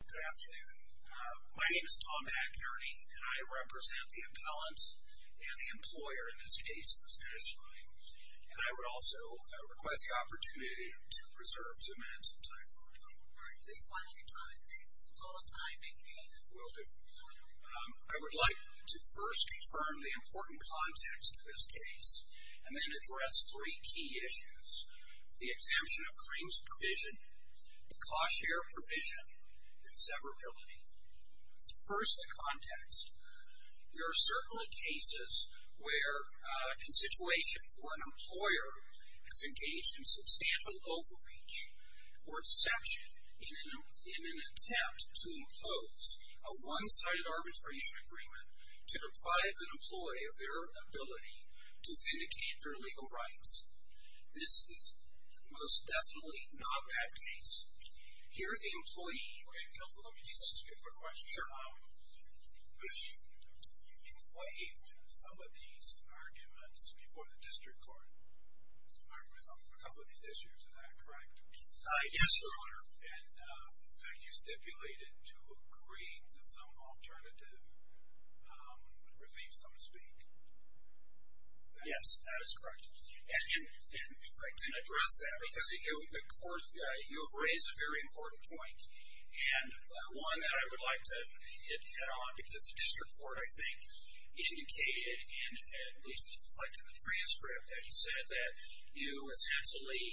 Good afternoon. My name is Tom McNerney, and I represent the appellant and the employer in this case, The Finish Line. And I would also request the opportunity to reserve two minutes of time for rebuttal. All right. Please watch your time. It's total time, indeed. Will do. I would like to first confirm the important context to this case, and then address three key issues. The exemption of claims provision, the cost share provision, and severability. First, the context. There are certainly cases where, in situations where an employer has engaged in substantial overreach or exception in an attempt to impose a one-sided arbitration agreement to deprive an employee of their ability to vindicate their legal rights. This is most definitely not that case. Here, the employee... Okay, counsel, let me just ask you a quick question. Sure. You waived some of these arguments before the district court, arguments on a couple of these issues, is that correct? Yes, your honor. And you stipulated to agreeing to some alternative relief, so to speak. Yes, that is correct. And in fact, to address that, because you have raised a very important point, and one that I would like to hit on, because the district court, I think, indicated, and at least it's reflected in the transcript, that he said that you essentially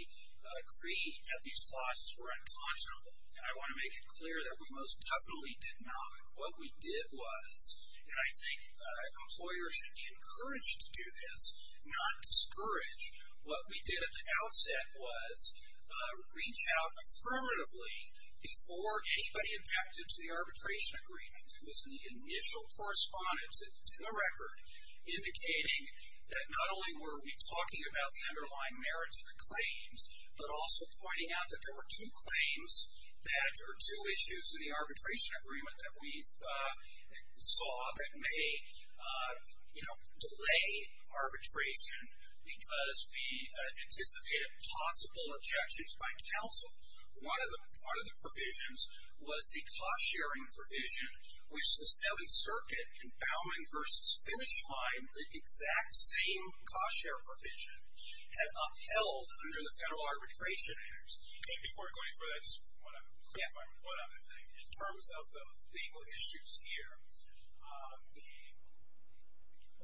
agreed that these costs were unconscionable. And I want to make it clear that we most definitely did not. What we did was, and I think employers should be encouraged to do this, not discouraged, what we did at the outset was reach out affirmatively before anybody objected to the arbitration agreements. It was in the initial correspondence, it's in the record, indicating that not only were we talking about the underlying merits of the claims, but also pointing out that there were two claims that, or two issues in the arbitration agreement that we saw that may delay arbitration because we anticipated possible objections by counsel. One of the provisions was the cost-sharing provision, which the Seventh Circuit, confounding versus finish line, the exact same cost-sharing provision, had upheld under the federal arbitration. And before going further, I just want to clarify one other thing. In terms of the legal issues here, the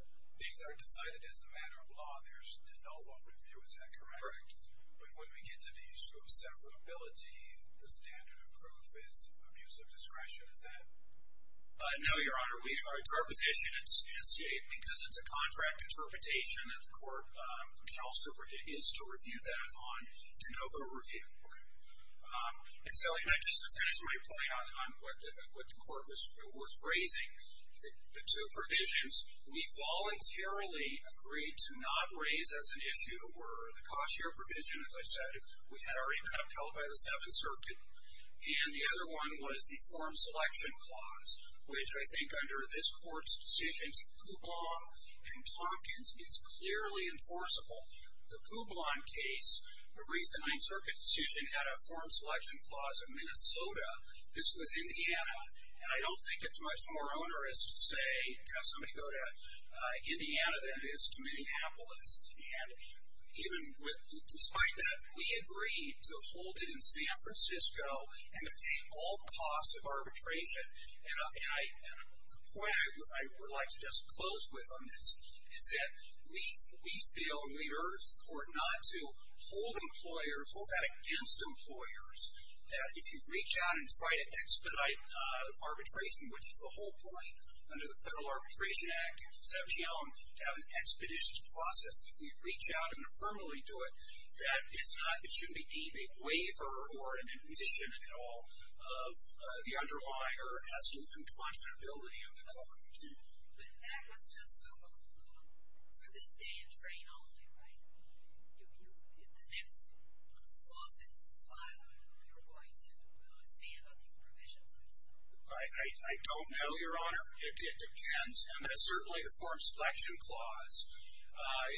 things are decided as a matter of law, there's to know what review, is that correct? Correct. But when we get to the issue of severability, the standard of proof is abuse of discretion, is that? No, your honor, our position is to negotiate because it's a contract interpretation and the court counsel is to review that on to know the review. And so, just to finish my point on what the court was raising, the two provisions we voluntarily agreed to not raise as an issue were the cost-sharing provision, as I said, we had already been upheld by the Seventh Circuit. And the other one was the form selection clause, which I think under this court's decisions, Kublon and Tompkins, is clearly enforceable. The Kublon case, the recent Ninth Circuit decision, had a form selection clause of Minnesota, this was Indiana, and I don't think it's much more onerous to say, have somebody go to Indiana than it is to Minneapolis. And even with, despite that, we agreed to hold it in San Francisco and obtain all costs of arbitration. And the point I would like to just close with on this is that we feel, and we urge the court not to, hold employers, hold that against employers, that if you reach out and try to expedite arbitration, which is the whole point under the Federal Arbitration Act, sub geome, to have an expeditious process. If we reach out and verbally do it, that it's not, it shouldn't be deemed a waiver or an admission at all of the underlying, or as to the impossibility of the clause. But that was just for the stand train only, right? You, the next lawsuit that's filed, you're going to stand on these provisions, I assume? I don't know, Your Honor. It depends. And certainly the form selection clause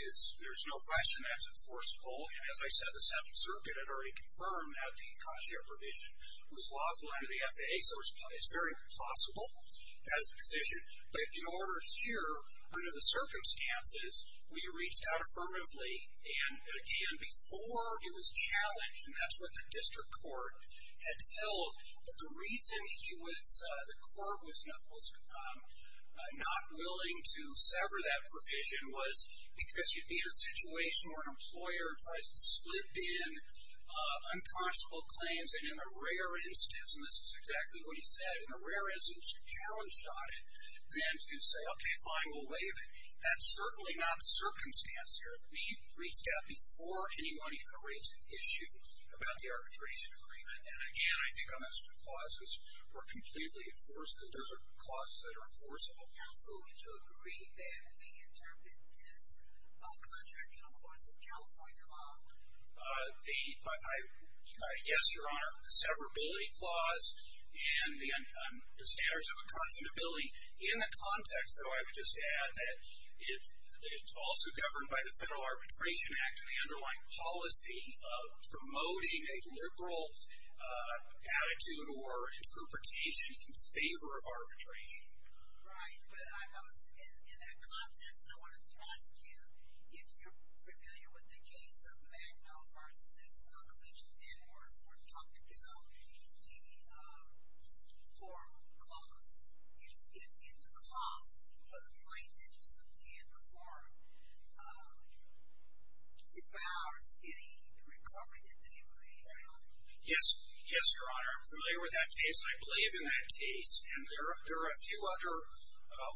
is, there's no question that's enforceable. And as I said, the Seventh Circuit had already confirmed that the cost share provision was lawful under the FAA, so it's very possible as a position. But in order here, under the circumstances, we reached out affirmatively. And again, before it was challenged, and that's what the district court had held, that the reason he was, the court was not willing to sever that provision was because you'd be in a situation where an employer tries to slip in unconscionable claims, and in a rare instance, and this is exactly what he said, in a rare instance, you're challenged on it, then to say, okay, fine, we'll waive it. That's certainly not the circumstance here. We reached out before anyone even raised an issue about the arbitration agreement. And again, I think on those two clauses, we're completely enforceable. Those are clauses that are enforceable. Counsel, would you agree that we interpret this by contracting, of course, with California law? The, I guess, Your Honor, the severability clause and the standards of unconscionability in the context, so I would just add that it's also governed by the Federal Arbitration Act and the underlying policy of promoting a liberal attitude or interpretation in favor of arbitration. Right, but I was, in that context, I wanted to ask you if you're familiar with the case of Magno versus Collegiate, and we're talking about the forum clause. If the clause, for the plaintiff to attend the forum, vows any recovery that they may have? Yes, yes, Your Honor. I'm familiar with that case, and I believe in that case, and there are a few other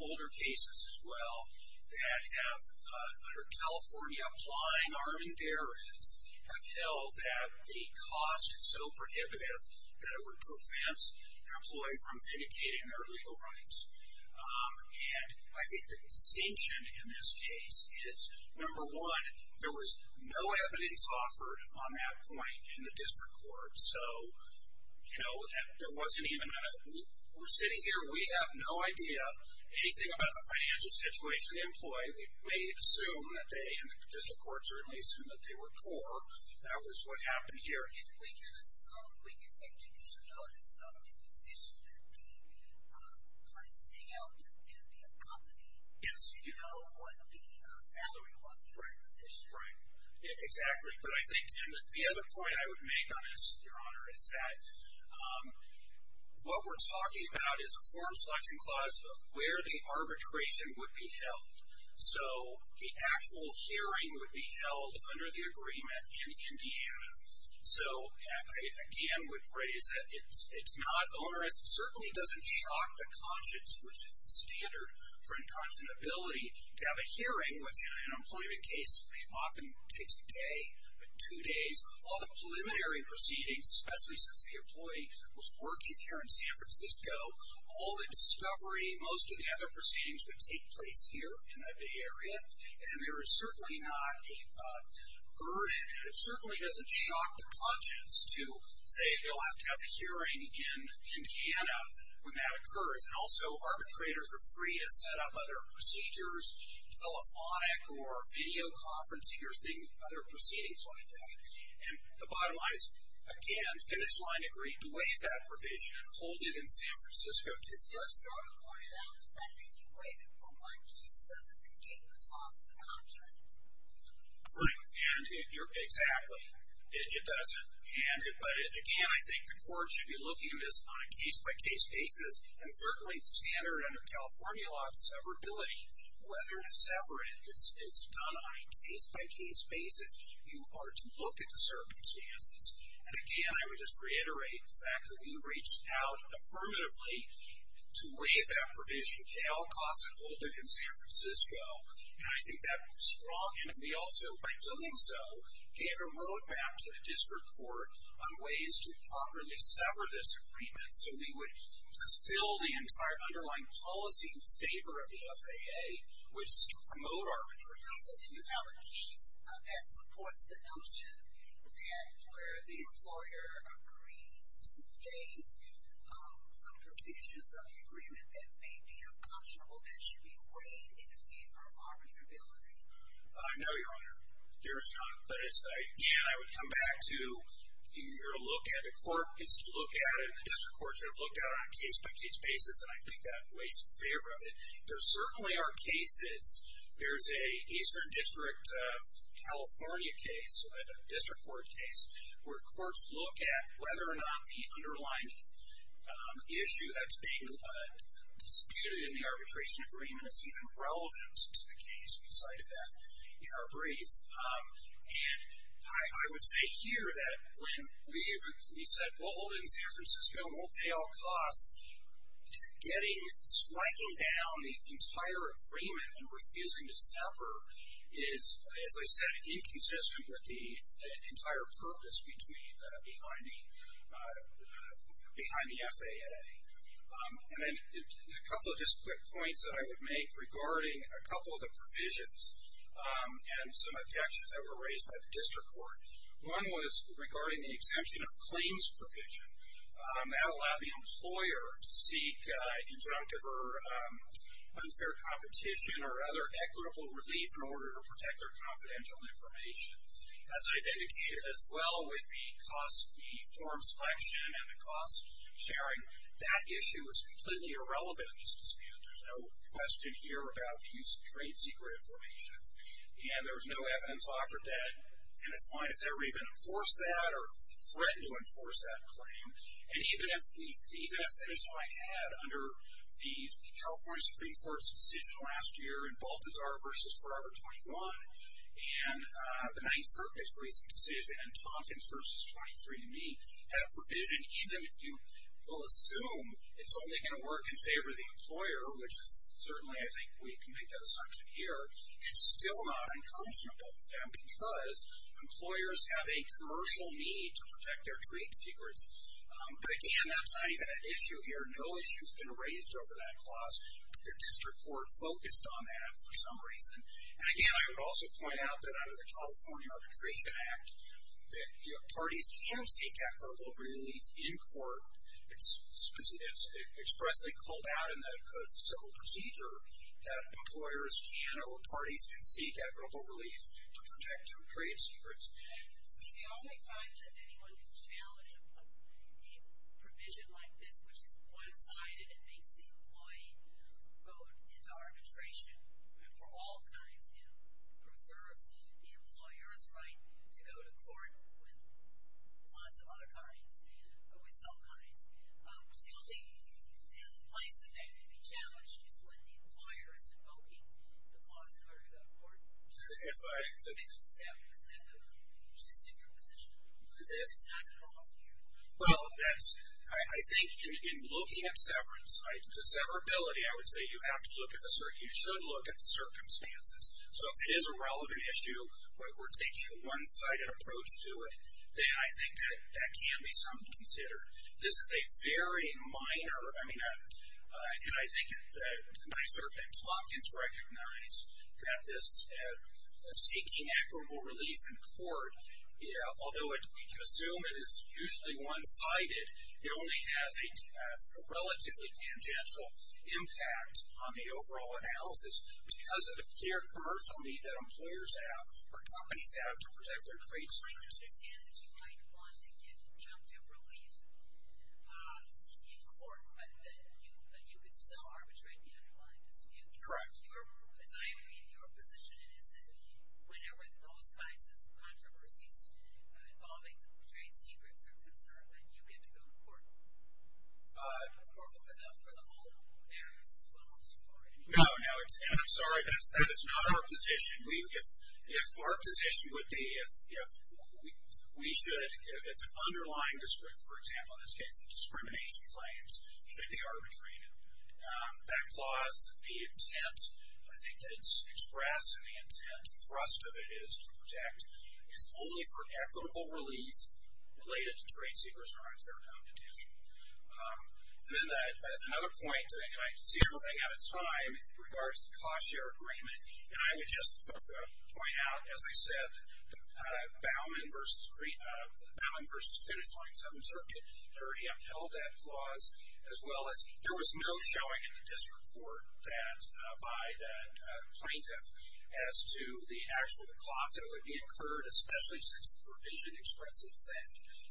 older cases as well that have, under California, applying arm and dares have held that the cost is so prohibitive that it would prevent an employee from vindicating their legal rights. And I think the distinction in this case is, number one, there was no evidence on that point in the district court. So, you know, there wasn't even a, we're sitting here, we have no idea, anything about the financial situation, the employee, we may assume that they, in the district courts, or at least assume that they were poor. That was what happened here. And we can assume, we can take judicial notice of the position that gave you the right to hang out and be accompanied. Yes. You know what the salary was for the position. Right, exactly. But I think, and the other point I would make on this, Your Honor, is that what we're talking about is a forum selection clause of where the arbitration would be held. So, the actual hearing would be held under the agreement in Indiana. So, I again would raise that it's not onerous. It certainly doesn't shock the conscience, which is the standard for inconstant ability to have a hearing, which in an employment case often takes a day, but two days. All the preliminary proceedings, especially since the employee was working here in San Francisco, all the discovery, most of the other proceedings would take place here in that Bay Area. And there is certainly not a burden, and it certainly doesn't shock the conscience to say you'll have to have a hearing in Indiana when that occurs. And also, arbitrators are free to set up other procedures, telephonic or videoconferencing or other proceedings like that. And the bottom line is, again, the finish line agreed to waive that provision and hold it in San Francisco. It's just sort of pointed out that when you waive it for one case, it doesn't negate the cost of the contract. Right. And exactly. It doesn't. But again, I think the court should be looking at this on a case-by-case basis, and certainly the standard under California law of severability, whether to sever it. It's done on a case-by-case basis. You are to look at the circumstances. And again, I would just reiterate the fact that we reached out affirmatively to waive that provision. Cal costs it, hold it in San Francisco. And I think that was strong. And we also, by doing so, gave a roadmap to the district court on ways to properly sever this agreement so we would fulfill the entire underlying policy in favor of the FAA, which is to promote arbitration. So do you have a case that supports the notion that where the employer agrees to waive some provisions of the agreement that may be unconscionable, that should be waived in favor of arbitrability? No, Your Honor. There is not. But again, I would come back to, you're to look at the district courts that have looked at it on a case-by-case basis, and I think that waives in favor of it. There certainly are cases. There's an Eastern District of California case, a district court case, where courts look at whether or not the underlying issue that's being disputed in the arbitration agreement is even relevant to the case. We cited that in our brief. And I would say here that when we said, well, in San Francisco, we'll pay all costs, getting, striking down the entire agreement and refusing to sever is, as I said, inconsistent with the entire purpose behind the FAA. And then a couple of just quick points that I would make regarding a couple of the provisions and some objections that were raised by the district court. One was regarding the exemption of claims provision. That allowed the employer to seek injunctive or unfair competition or other equitable relief in order to protect their confidential information. As I've indicated as well with the cost, the form selection and the cost sharing, that issue was completely irrelevant in these disputes. There's no question here about the use of trade secret information. And there was no evidence offered that Finnis Fine has ever even enforced that or threatened to enforce that claim. And even if Finnis Fine had under the California Supreme Court's decision last year in Baltazar v. Forever 21 and the Ninth Circuit's recent decision in Tompkins v. 23andMe, had a provision, even if you will assume it's only going to work in favor of the employer, which is certainly, I think, we can make that assumption here, it's still not unconscionable because employers have a commercial need to protect their trade secrets. But again, that's not even an issue here. No issue's been raised over that clause. The district court focused on that for some reason. And again, I would also point out that under the California Arbitration Act, parties can seek equitable relief in court. It's expressly called out in the civil procedure that employers can, or parties can seek equitable relief to protect their trade secrets. See, the only times that anyone can challenge a provision like this, which is one-sided and makes the employee go into arbitration for all kinds and preserves the employer's right to go to court with lots of other kinds, or with some kinds, the only place that that can be challenged is when the employer is invoking the clause in order to go to court. If I... And is that just in your position? Because it's not at all here. Well, that's, I think in looking at severance, severability, I would say you have to look at the, you should look at the circumstances. So if it is a relevant issue, we're taking a one-sided approach to it, then I think that that can be something to consider. This is a very minor, I mean, and I think it's nice, certainly, that Plotkin's recognized that this seeking equitable relief in court, although we can assume it is usually one-sided, it only has a relatively tangential impact on the overall analysis because of the clear commercial need that employers have, or companies have, to protect their trade secrets. I understand that you might want to get objective relief in court, but that you could still arbitrate the underlying dispute. Correct. Your, as I read your position, it is that whenever those kinds of controversies involving trade secrets are concerned, that you get to go to court. Or for them all, parents as well, or anyone. No, no, and I'm sorry, that is not our position. If our position would be, if we should, if the underlying dispute, for example, in this case, the discrimination claims, should be arbitrated. That clause, the intent, I think that it's expressed, and the intent and thrust of it is to protect, is only for equitable relief related to trade secrets or uninsured entities. And then another point, and I see everything out of time, in regards to the cost-share agreement, and I would just point out, as I said, the Baumann v. Senate 27th Circuit 30 upheld that clause, as well as, there was no showing in the district court that, by the plaintiff, as to the actual cost that would be incurred, especially since the provision expressly said,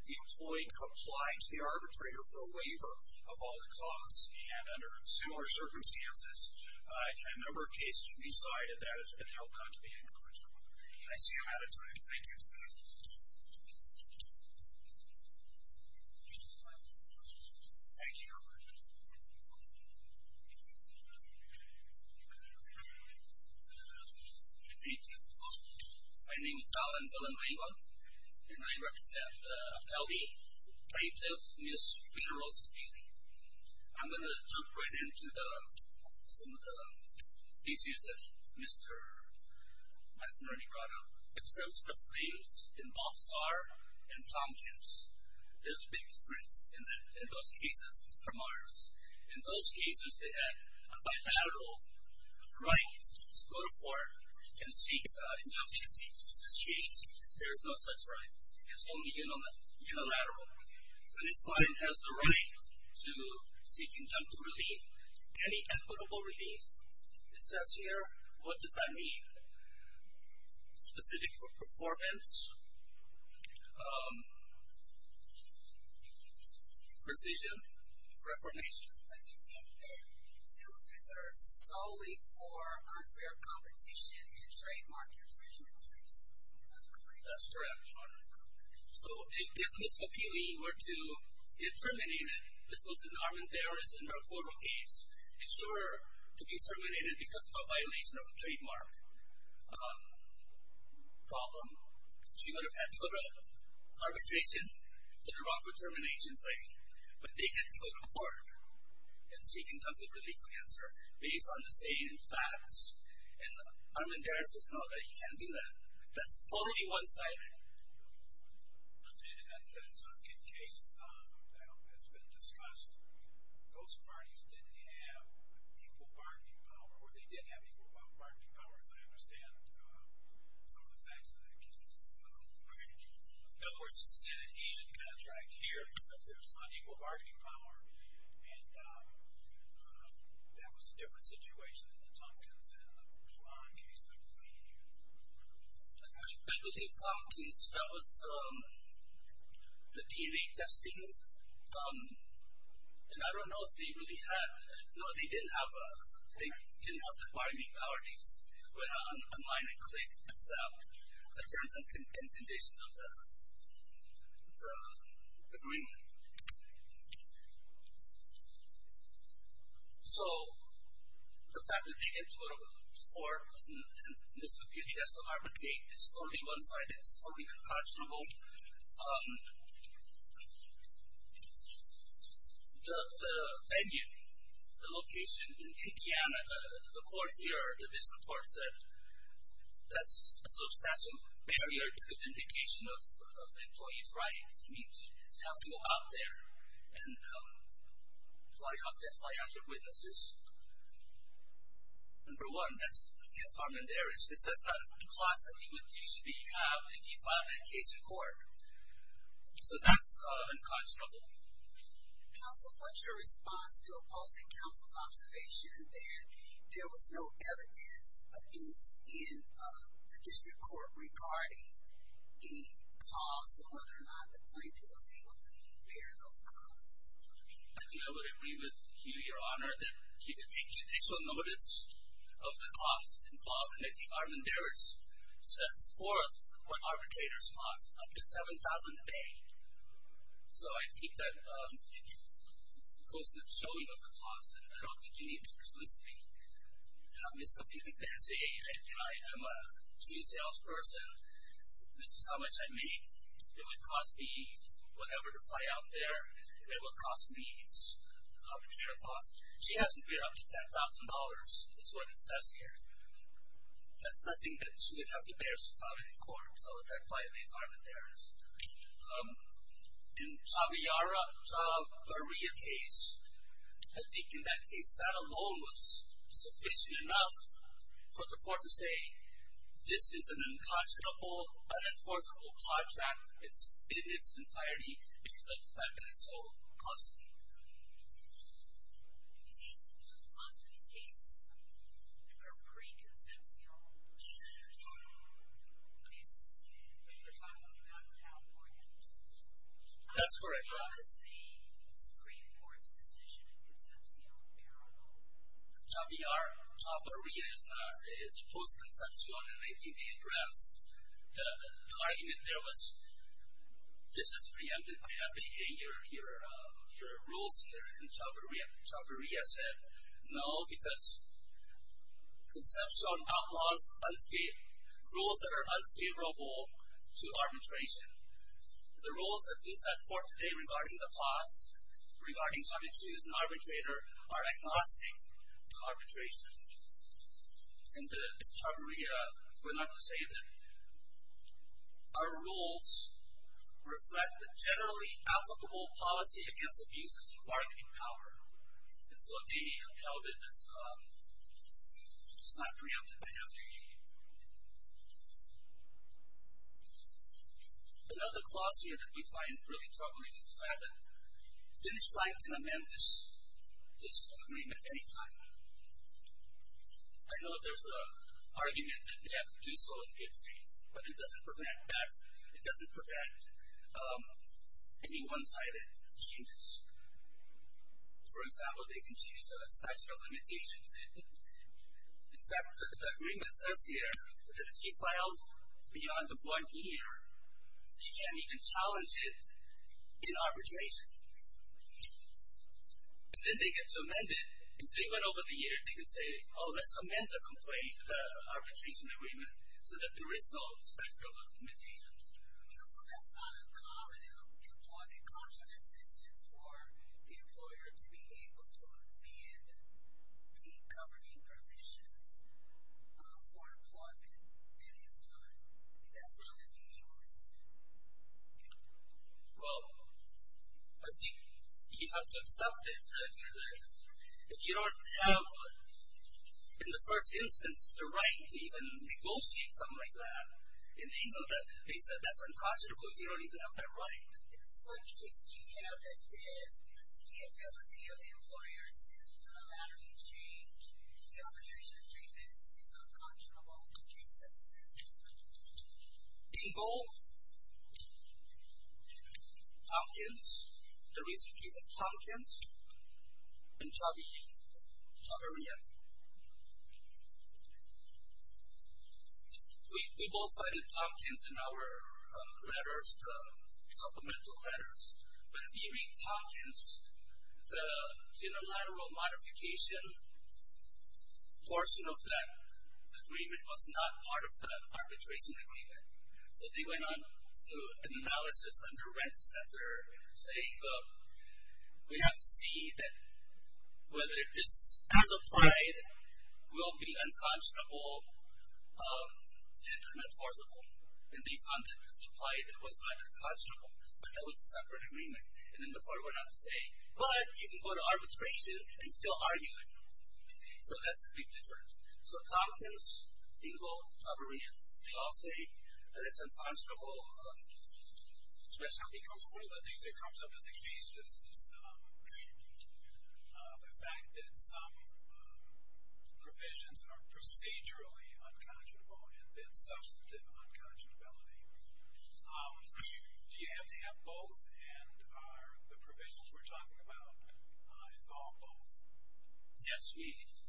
the employee complied to the arbitrator for a waiver of all the costs, and under similar circumstances, a number of cases have been cited, that has been held contrary to the incurrential order. I see I'm out of time, thank you. Thank you, Your Honor. My name is Alan Villanueva, and I represent the Acaube Plaintiff, Ms. Peterose Bailey. I'm going to jump right into some of the issues that Mr. McNerney brought up. In both SAR and Tompkins, there's a big difference in those cases from ours. In those cases, they had a bilateral right to go to court and seek injunctive discharge. There is no such right. It's only unilateral. So this client has the right to seek injunctive relief, any equitable relief. It says here, what does that mean? Specific for performance, precision, reformation. But you said that it was reserved solely for unfair competition and trademark infringement. That's correct, Your Honor. So if Ms. Papili were to get terminated, this was in Armendariz and her court case, if she were to be terminated because of a violation of a trademark problem, she would have had to go to arbitration for the wrongful termination claim. But they get to go to court and seek injunctive relief against her based on the same facts. And Armendariz does not know that you can do that. That's totally one-sided. In the Tompkins case that has been discussed, those parties didn't have equal bargaining power. Or they did have equal bargaining power, as I understand some of the facts of that case. Of course, this is in an Asian contract here because there's unequal bargaining power. And that was a different situation in the Tompkins and the Mulan case that we're debating here. I believe Tompkins, that was the DV testing. And I don't know if they really had—no, they didn't have the bargaining power. So the fact that they get to go to court and this is a case of arbitrate is totally one-sided. It's totally unconscionable. The venue, the location, in Indiana, the court here, the district court said, that's a substantial barrier to vindication of the employee's right. You have to go out there and fly out your witnesses. Number one, that's Armendariz. That's not a clause that you would use if you have a defunded case in court. So that's unconscionable. Counsel, what's your response to opposing counsel's observation that there was no evidence adduced in the district court regarding the cause and whether or not the plaintiff was able to bear those costs? I think I would agree with you, Your Honor, that you could take judicial notice of the cost involved. And I think Armendariz sets forth what arbitrators cost, up to $7,000 a day. So I think that goes to the showing of the cost, and I don't think you need to explicitly miscompute it there and say, hey, I'm a free salesperson. This is how much I make. It would cost me whatever to fly out there. It would cost me how much it would cost. She hasn't paid up to $10,000, is what it says here. That's nothing that she would have the barriers to file in court. So that violates Armendariz. In Javiara, Javaria case, I think in that case, that alone was sufficient enough for the court to say, this is an unconscionable, unenforceable contract in its entirety because of the fact that it's so costly. Also, these cases are pre-conceptual cases. They're not outlawed yet. That's correct, Your Honor. How is the Supreme Court's decision a conceptual parable? Javiar, Javaria is a post-conceptual, and I think the address, the argument there was, this is preempted by FDA, your rules here in Javaria. Javaria said, no, because conceptual outlaws rules that are unfavorable to arbitration. The rules that we set forth today regarding the cost, regarding trying to choose an arbitrator, are agnostic to arbitration. And Javaria went on to say that our rules reflect the generally applicable policy against abuses of bargaining power. And so they held it as not preempted by FDA. Another clause here that we find really troubling is the fact that Finnish Blank can amend this agreement any time. I know that there's an argument that they have to do so in good faith, but it doesn't prevent any one-sided changes. For example, they can change the statute of limitations. In fact, the agreement says here that if you file beyond the one year, you can challenge it in arbitration. And then they get to amend it. And even over the years, they can say, oh, let's amend the arbitration agreement so that there is no statute of limitations. So that's not uncommon in employment. It often exists for the employer to be able to amend the governing permissions for employment at any time. That's not unusual, is it? Well, you have to accept it. If you don't have, in the first instance, the right to even negotiate something like that, in the instance that they said that's unconscionable, you don't even have that right. Yes, what case do you have that says the ability of the employer to allow any change in the arbitration agreement is unconscionable? In gold, Tompkins, the recent case of Tompkins, and Chaudhary, Chaudhary, yeah. We both cited Tompkins in our letters, the supplemental letters. But if you read Tompkins, the unilateral modification portion of that agreement was not part of the arbitration agreement. So they went on to an analysis under rent sector, saying we have to see that whether this as applied will be unconscionable and unenforceable. And they found that as applied, it was not unconscionable. But that was a separate agreement. And then the court went on to say, but you can go to arbitration and still argue it. So that's a big difference. So Tompkins, Ingo, Chaudhary, they all say that it's unconscionable. One of the things that comes up in the case is the fact that some provisions are procedurally unconscionable and then substantive unconscionability. Do you have to have both? And are the provisions we're talking about involve both? Yes, we do.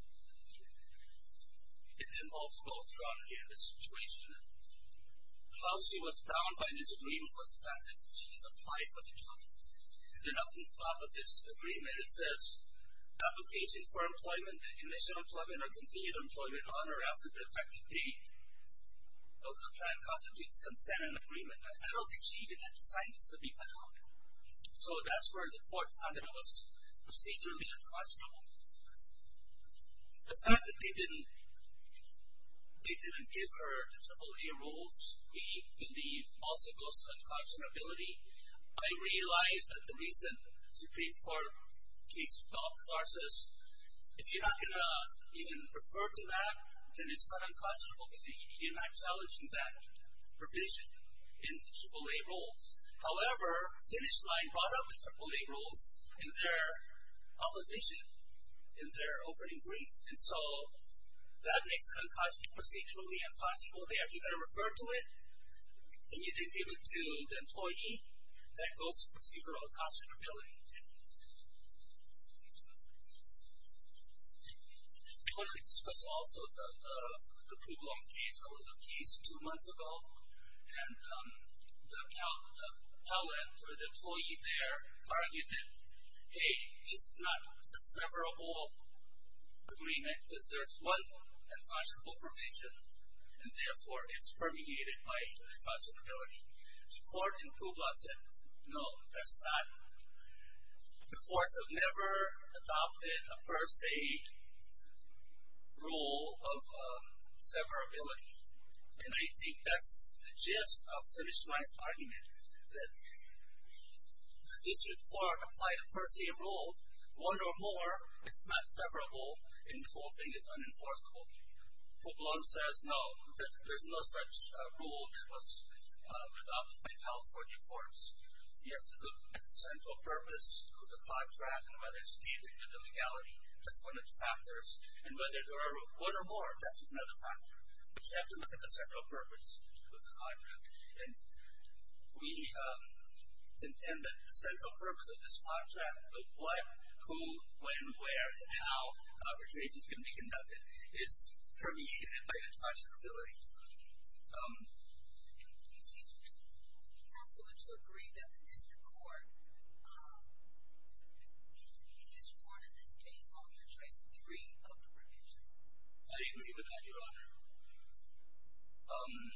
It involves both, Chaudhary, and this situation. How she was bound by this agreement was the fact that she's applied for the job. And then up on top of this agreement, it says, application for employment, initial employment, or continued employment on or after the effective date of the plan constitutes consent and agreement. And I don't think she even signed this to be allowed. So that's where the court found it was procedurally unconscionable. The fact that they didn't give her AAA rules, we believe, also goes to unconscionability. I realize that the recent Supreme Court case with Alta Sarsis, if you're not going to even refer to that, then it's not unconscionable because you're not challenging that provision in AAA rules. However, the finish line brought up the AAA rules in their opposition, in their opening brief. And so that makes it procedurally impossible. They actually got to refer to it, and you didn't give it to the employee. That goes to procedural unconscionability. I want to discuss also the Puglon case. It was a case two months ago, and the appellant or the employee there argued that, hey, this is not a severable agreement because there's one unconscionable provision, and therefore it's permeated by unconscionability. The court in Puglon said, no, that's not it. The courts have never adopted a per se rule of severability, and I think that's the gist of the finish line's argument, that the district court applied a per se rule. One or more, it's not severable, and the whole thing is unenforceable. Puglon says, no, there's no such rule that was adopted by California courts. You have to look at the central purpose of the contract and whether it's dealing with the legality. That's one of the factors. And whether there are one or more, that's another factor. You have to look at the central purpose of the contract. And we intend that the central purpose of this contract, the what, who, when, where, and how an arbitration is going to be conducted, is permeated by unconscionability. And do you have to agree that the district court, you just warned in this case on your choice, three of the provisions. I agree with that, Your Honor. And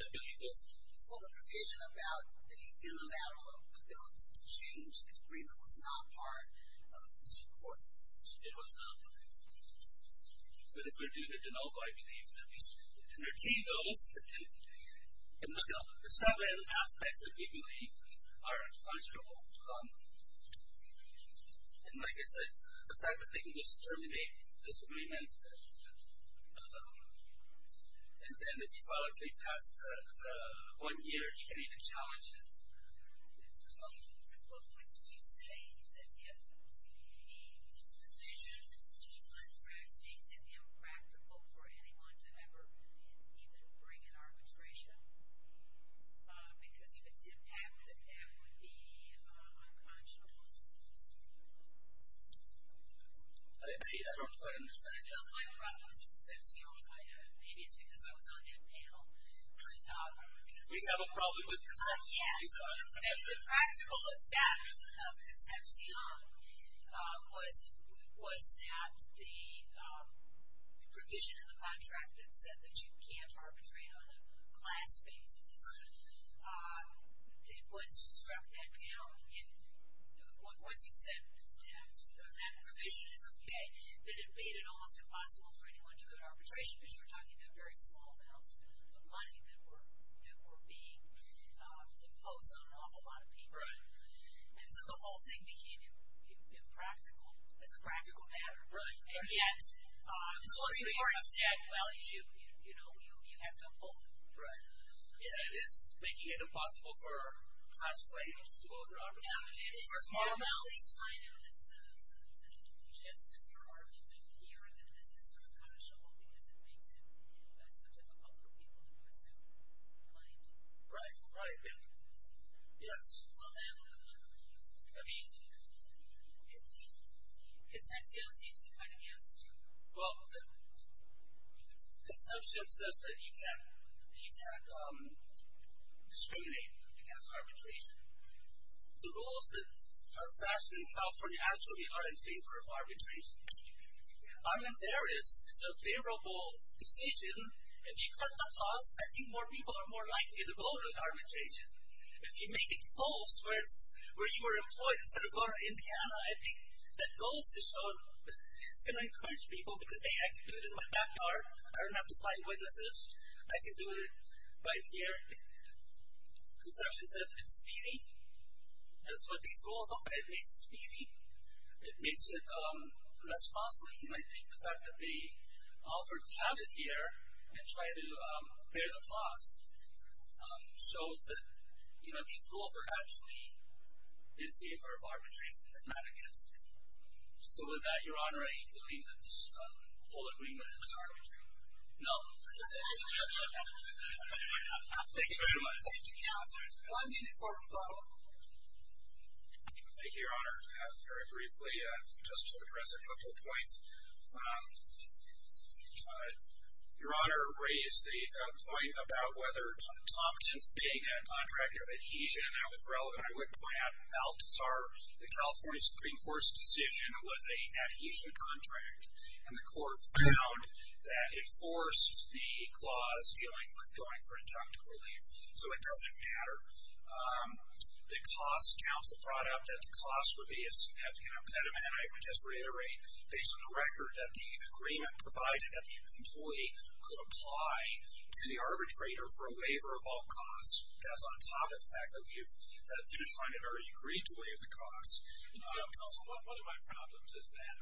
I believe this. So the provision about the unilateral ability to change the agreement was not part of the district court's decision. It was not part of it. But if we're doing a de novo, I believe that we should entertain those. And look at the seven aspects that we believe are unconscionable. And like I said, the fact that they can just terminate this agreement, and then if you follow through past one year, you can even challenge it. At what point do you say that if the position on the contract makes it impractical for anyone to ever even bring an arbitration? Because if it's impacted, that would be unconscionable? I agree. That's what I understand. My problem is with Concepcion. Maybe it's because I was on that panel. We have a problem with Concepcion. Yes. Maybe the practical effect of Concepcion was that the provision in the contract that said that you can't arbitrate on a class basis, once you struck that down, once you said that that provision is okay, then it made it almost impossible for anyone to do an arbitration because you're talking about very small amounts of money that were being imposed on an awful lot of people. And so the whole thing became impractical as a practical matter. And yet, the three-part stack values, you have to uphold them. It is making it impossible for class players to go through arbitration. Yeah, it is as small amounts. It's normally defined as the interest in your argument here, and then this is unconscionable because it makes it so difficult for people to pursue a claim. Right, right. Yes. Well, then, I mean, Concepcion seems to cut against you. Well, Concepcion says that you can't discriminate against arbitration. The rules that are fashioned in California actually are in favor of arbitration. I mean, there is a favorable decision. If you cut the cost, I think more people are more likely to go to arbitration. If you make it close where you were employed instead of going to Indiana, I think that goes to show it's going to encourage people because, hey, I can do it in my backyard. I don't have to find witnesses. I can do it right here. Concepcion says it's speedy. That's what these rules are. It makes it speedy. It makes it less costly. And I think the fact that they offered to have it here and try to pay the cost shows that these rules are actually in favor of arbitration and not against it. So with that, Your Honor, I agree that this whole agreement is arbitration. No. Thank you very much. Thank you, Counselor. One minute for rebuttal. Thank you, Your Honor. Very briefly, just to address a couple of points, Your Honor raised the point about whether Tompkins being a contractor of adhesion, that was relevant. I would point out that the California Supreme Court's decision was an adhesion contract, and the court found that it forced the clause dealing with going for injunctive relief, so it doesn't matter. The cost counsel brought up that the cost would be as impediment. I would just reiterate, based on the record that the agreement provided, that the employee could apply to the arbitrator for a waiver of all costs. That's on top of the fact that we've had a judge find an already agreed to waive the cost. Counsel, one of my problems is that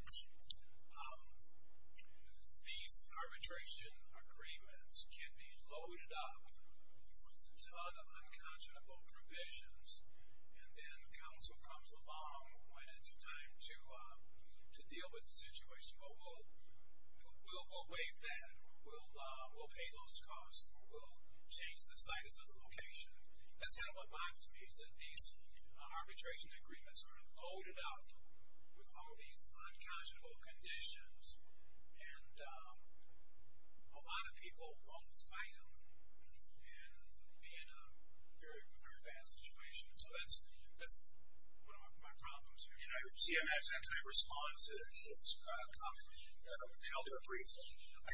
these arbitration agreements can be loaded up with a ton of unconscionable provisions, and then counsel comes along when it's time to deal with the situation. Well, we'll waive that, or we'll pay those costs, or we'll change the status of the location. That's kind of what bothers me, is that these arbitration agreements are loaded up with all these unconscionable conditions, and a lot of people won't find them and be in a very, very bad situation. So that's one of my problems here. You see, I'm actually going to respond to a comment held there briefly. I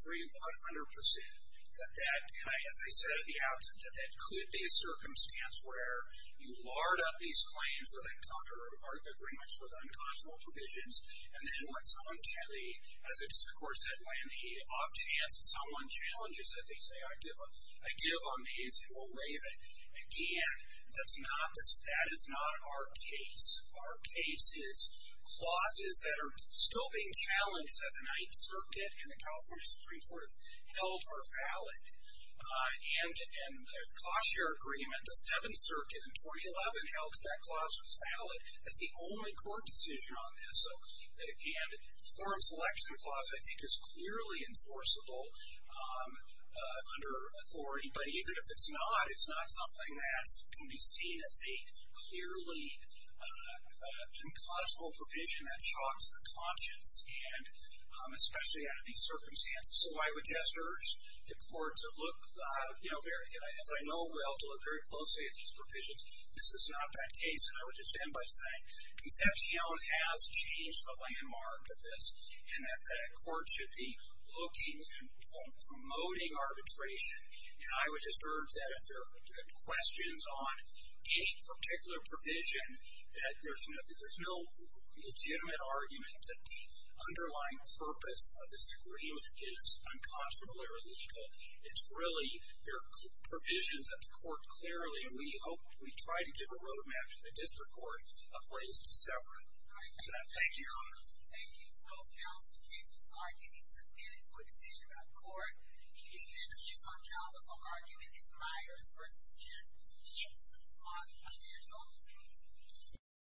agree 100% that that, as I said at the outset, that that could be a circumstance where you lard up these claims with unconscionable provisions, and then when someone gently, as it is, of course, that way, an off chance that someone challenges it, they say, I give them these, and we'll waive it. Again, that is not our case. Clauses that are still being challenged at the Ninth Circuit and the California Supreme Court have held are valid. And the cost share agreement, the Seventh Circuit in 2011, held that that clause was valid. That's the only court decision on this. And the forum selection clause, I think, is clearly enforceable under authority, but even if it's not, it's not something that can be seen as a clearly unconscionable provision that shocks the conscience, and especially under these circumstances. So I would just urge the court to look, you know, as I know well, to look very closely at these provisions. This is not that case. And I would just end by saying Concepcion has changed the landmark of this in that the court should be looking and promoting arbitration. And I would just urge that if there are questions on any particular provision, that there's no legitimate argument that the underlying purpose of this agreement is unconscionable or illegal. It's really there are provisions that the court clearly, and we hope we try to give a road map to the district court, of ways to sever it. Thank you. Thank you. 12,000 cases argued and submitted for decision by the court. Do you think there's a disuncountable argument? It's Myers versus Jess. Yes. All right. Thank you. That's all.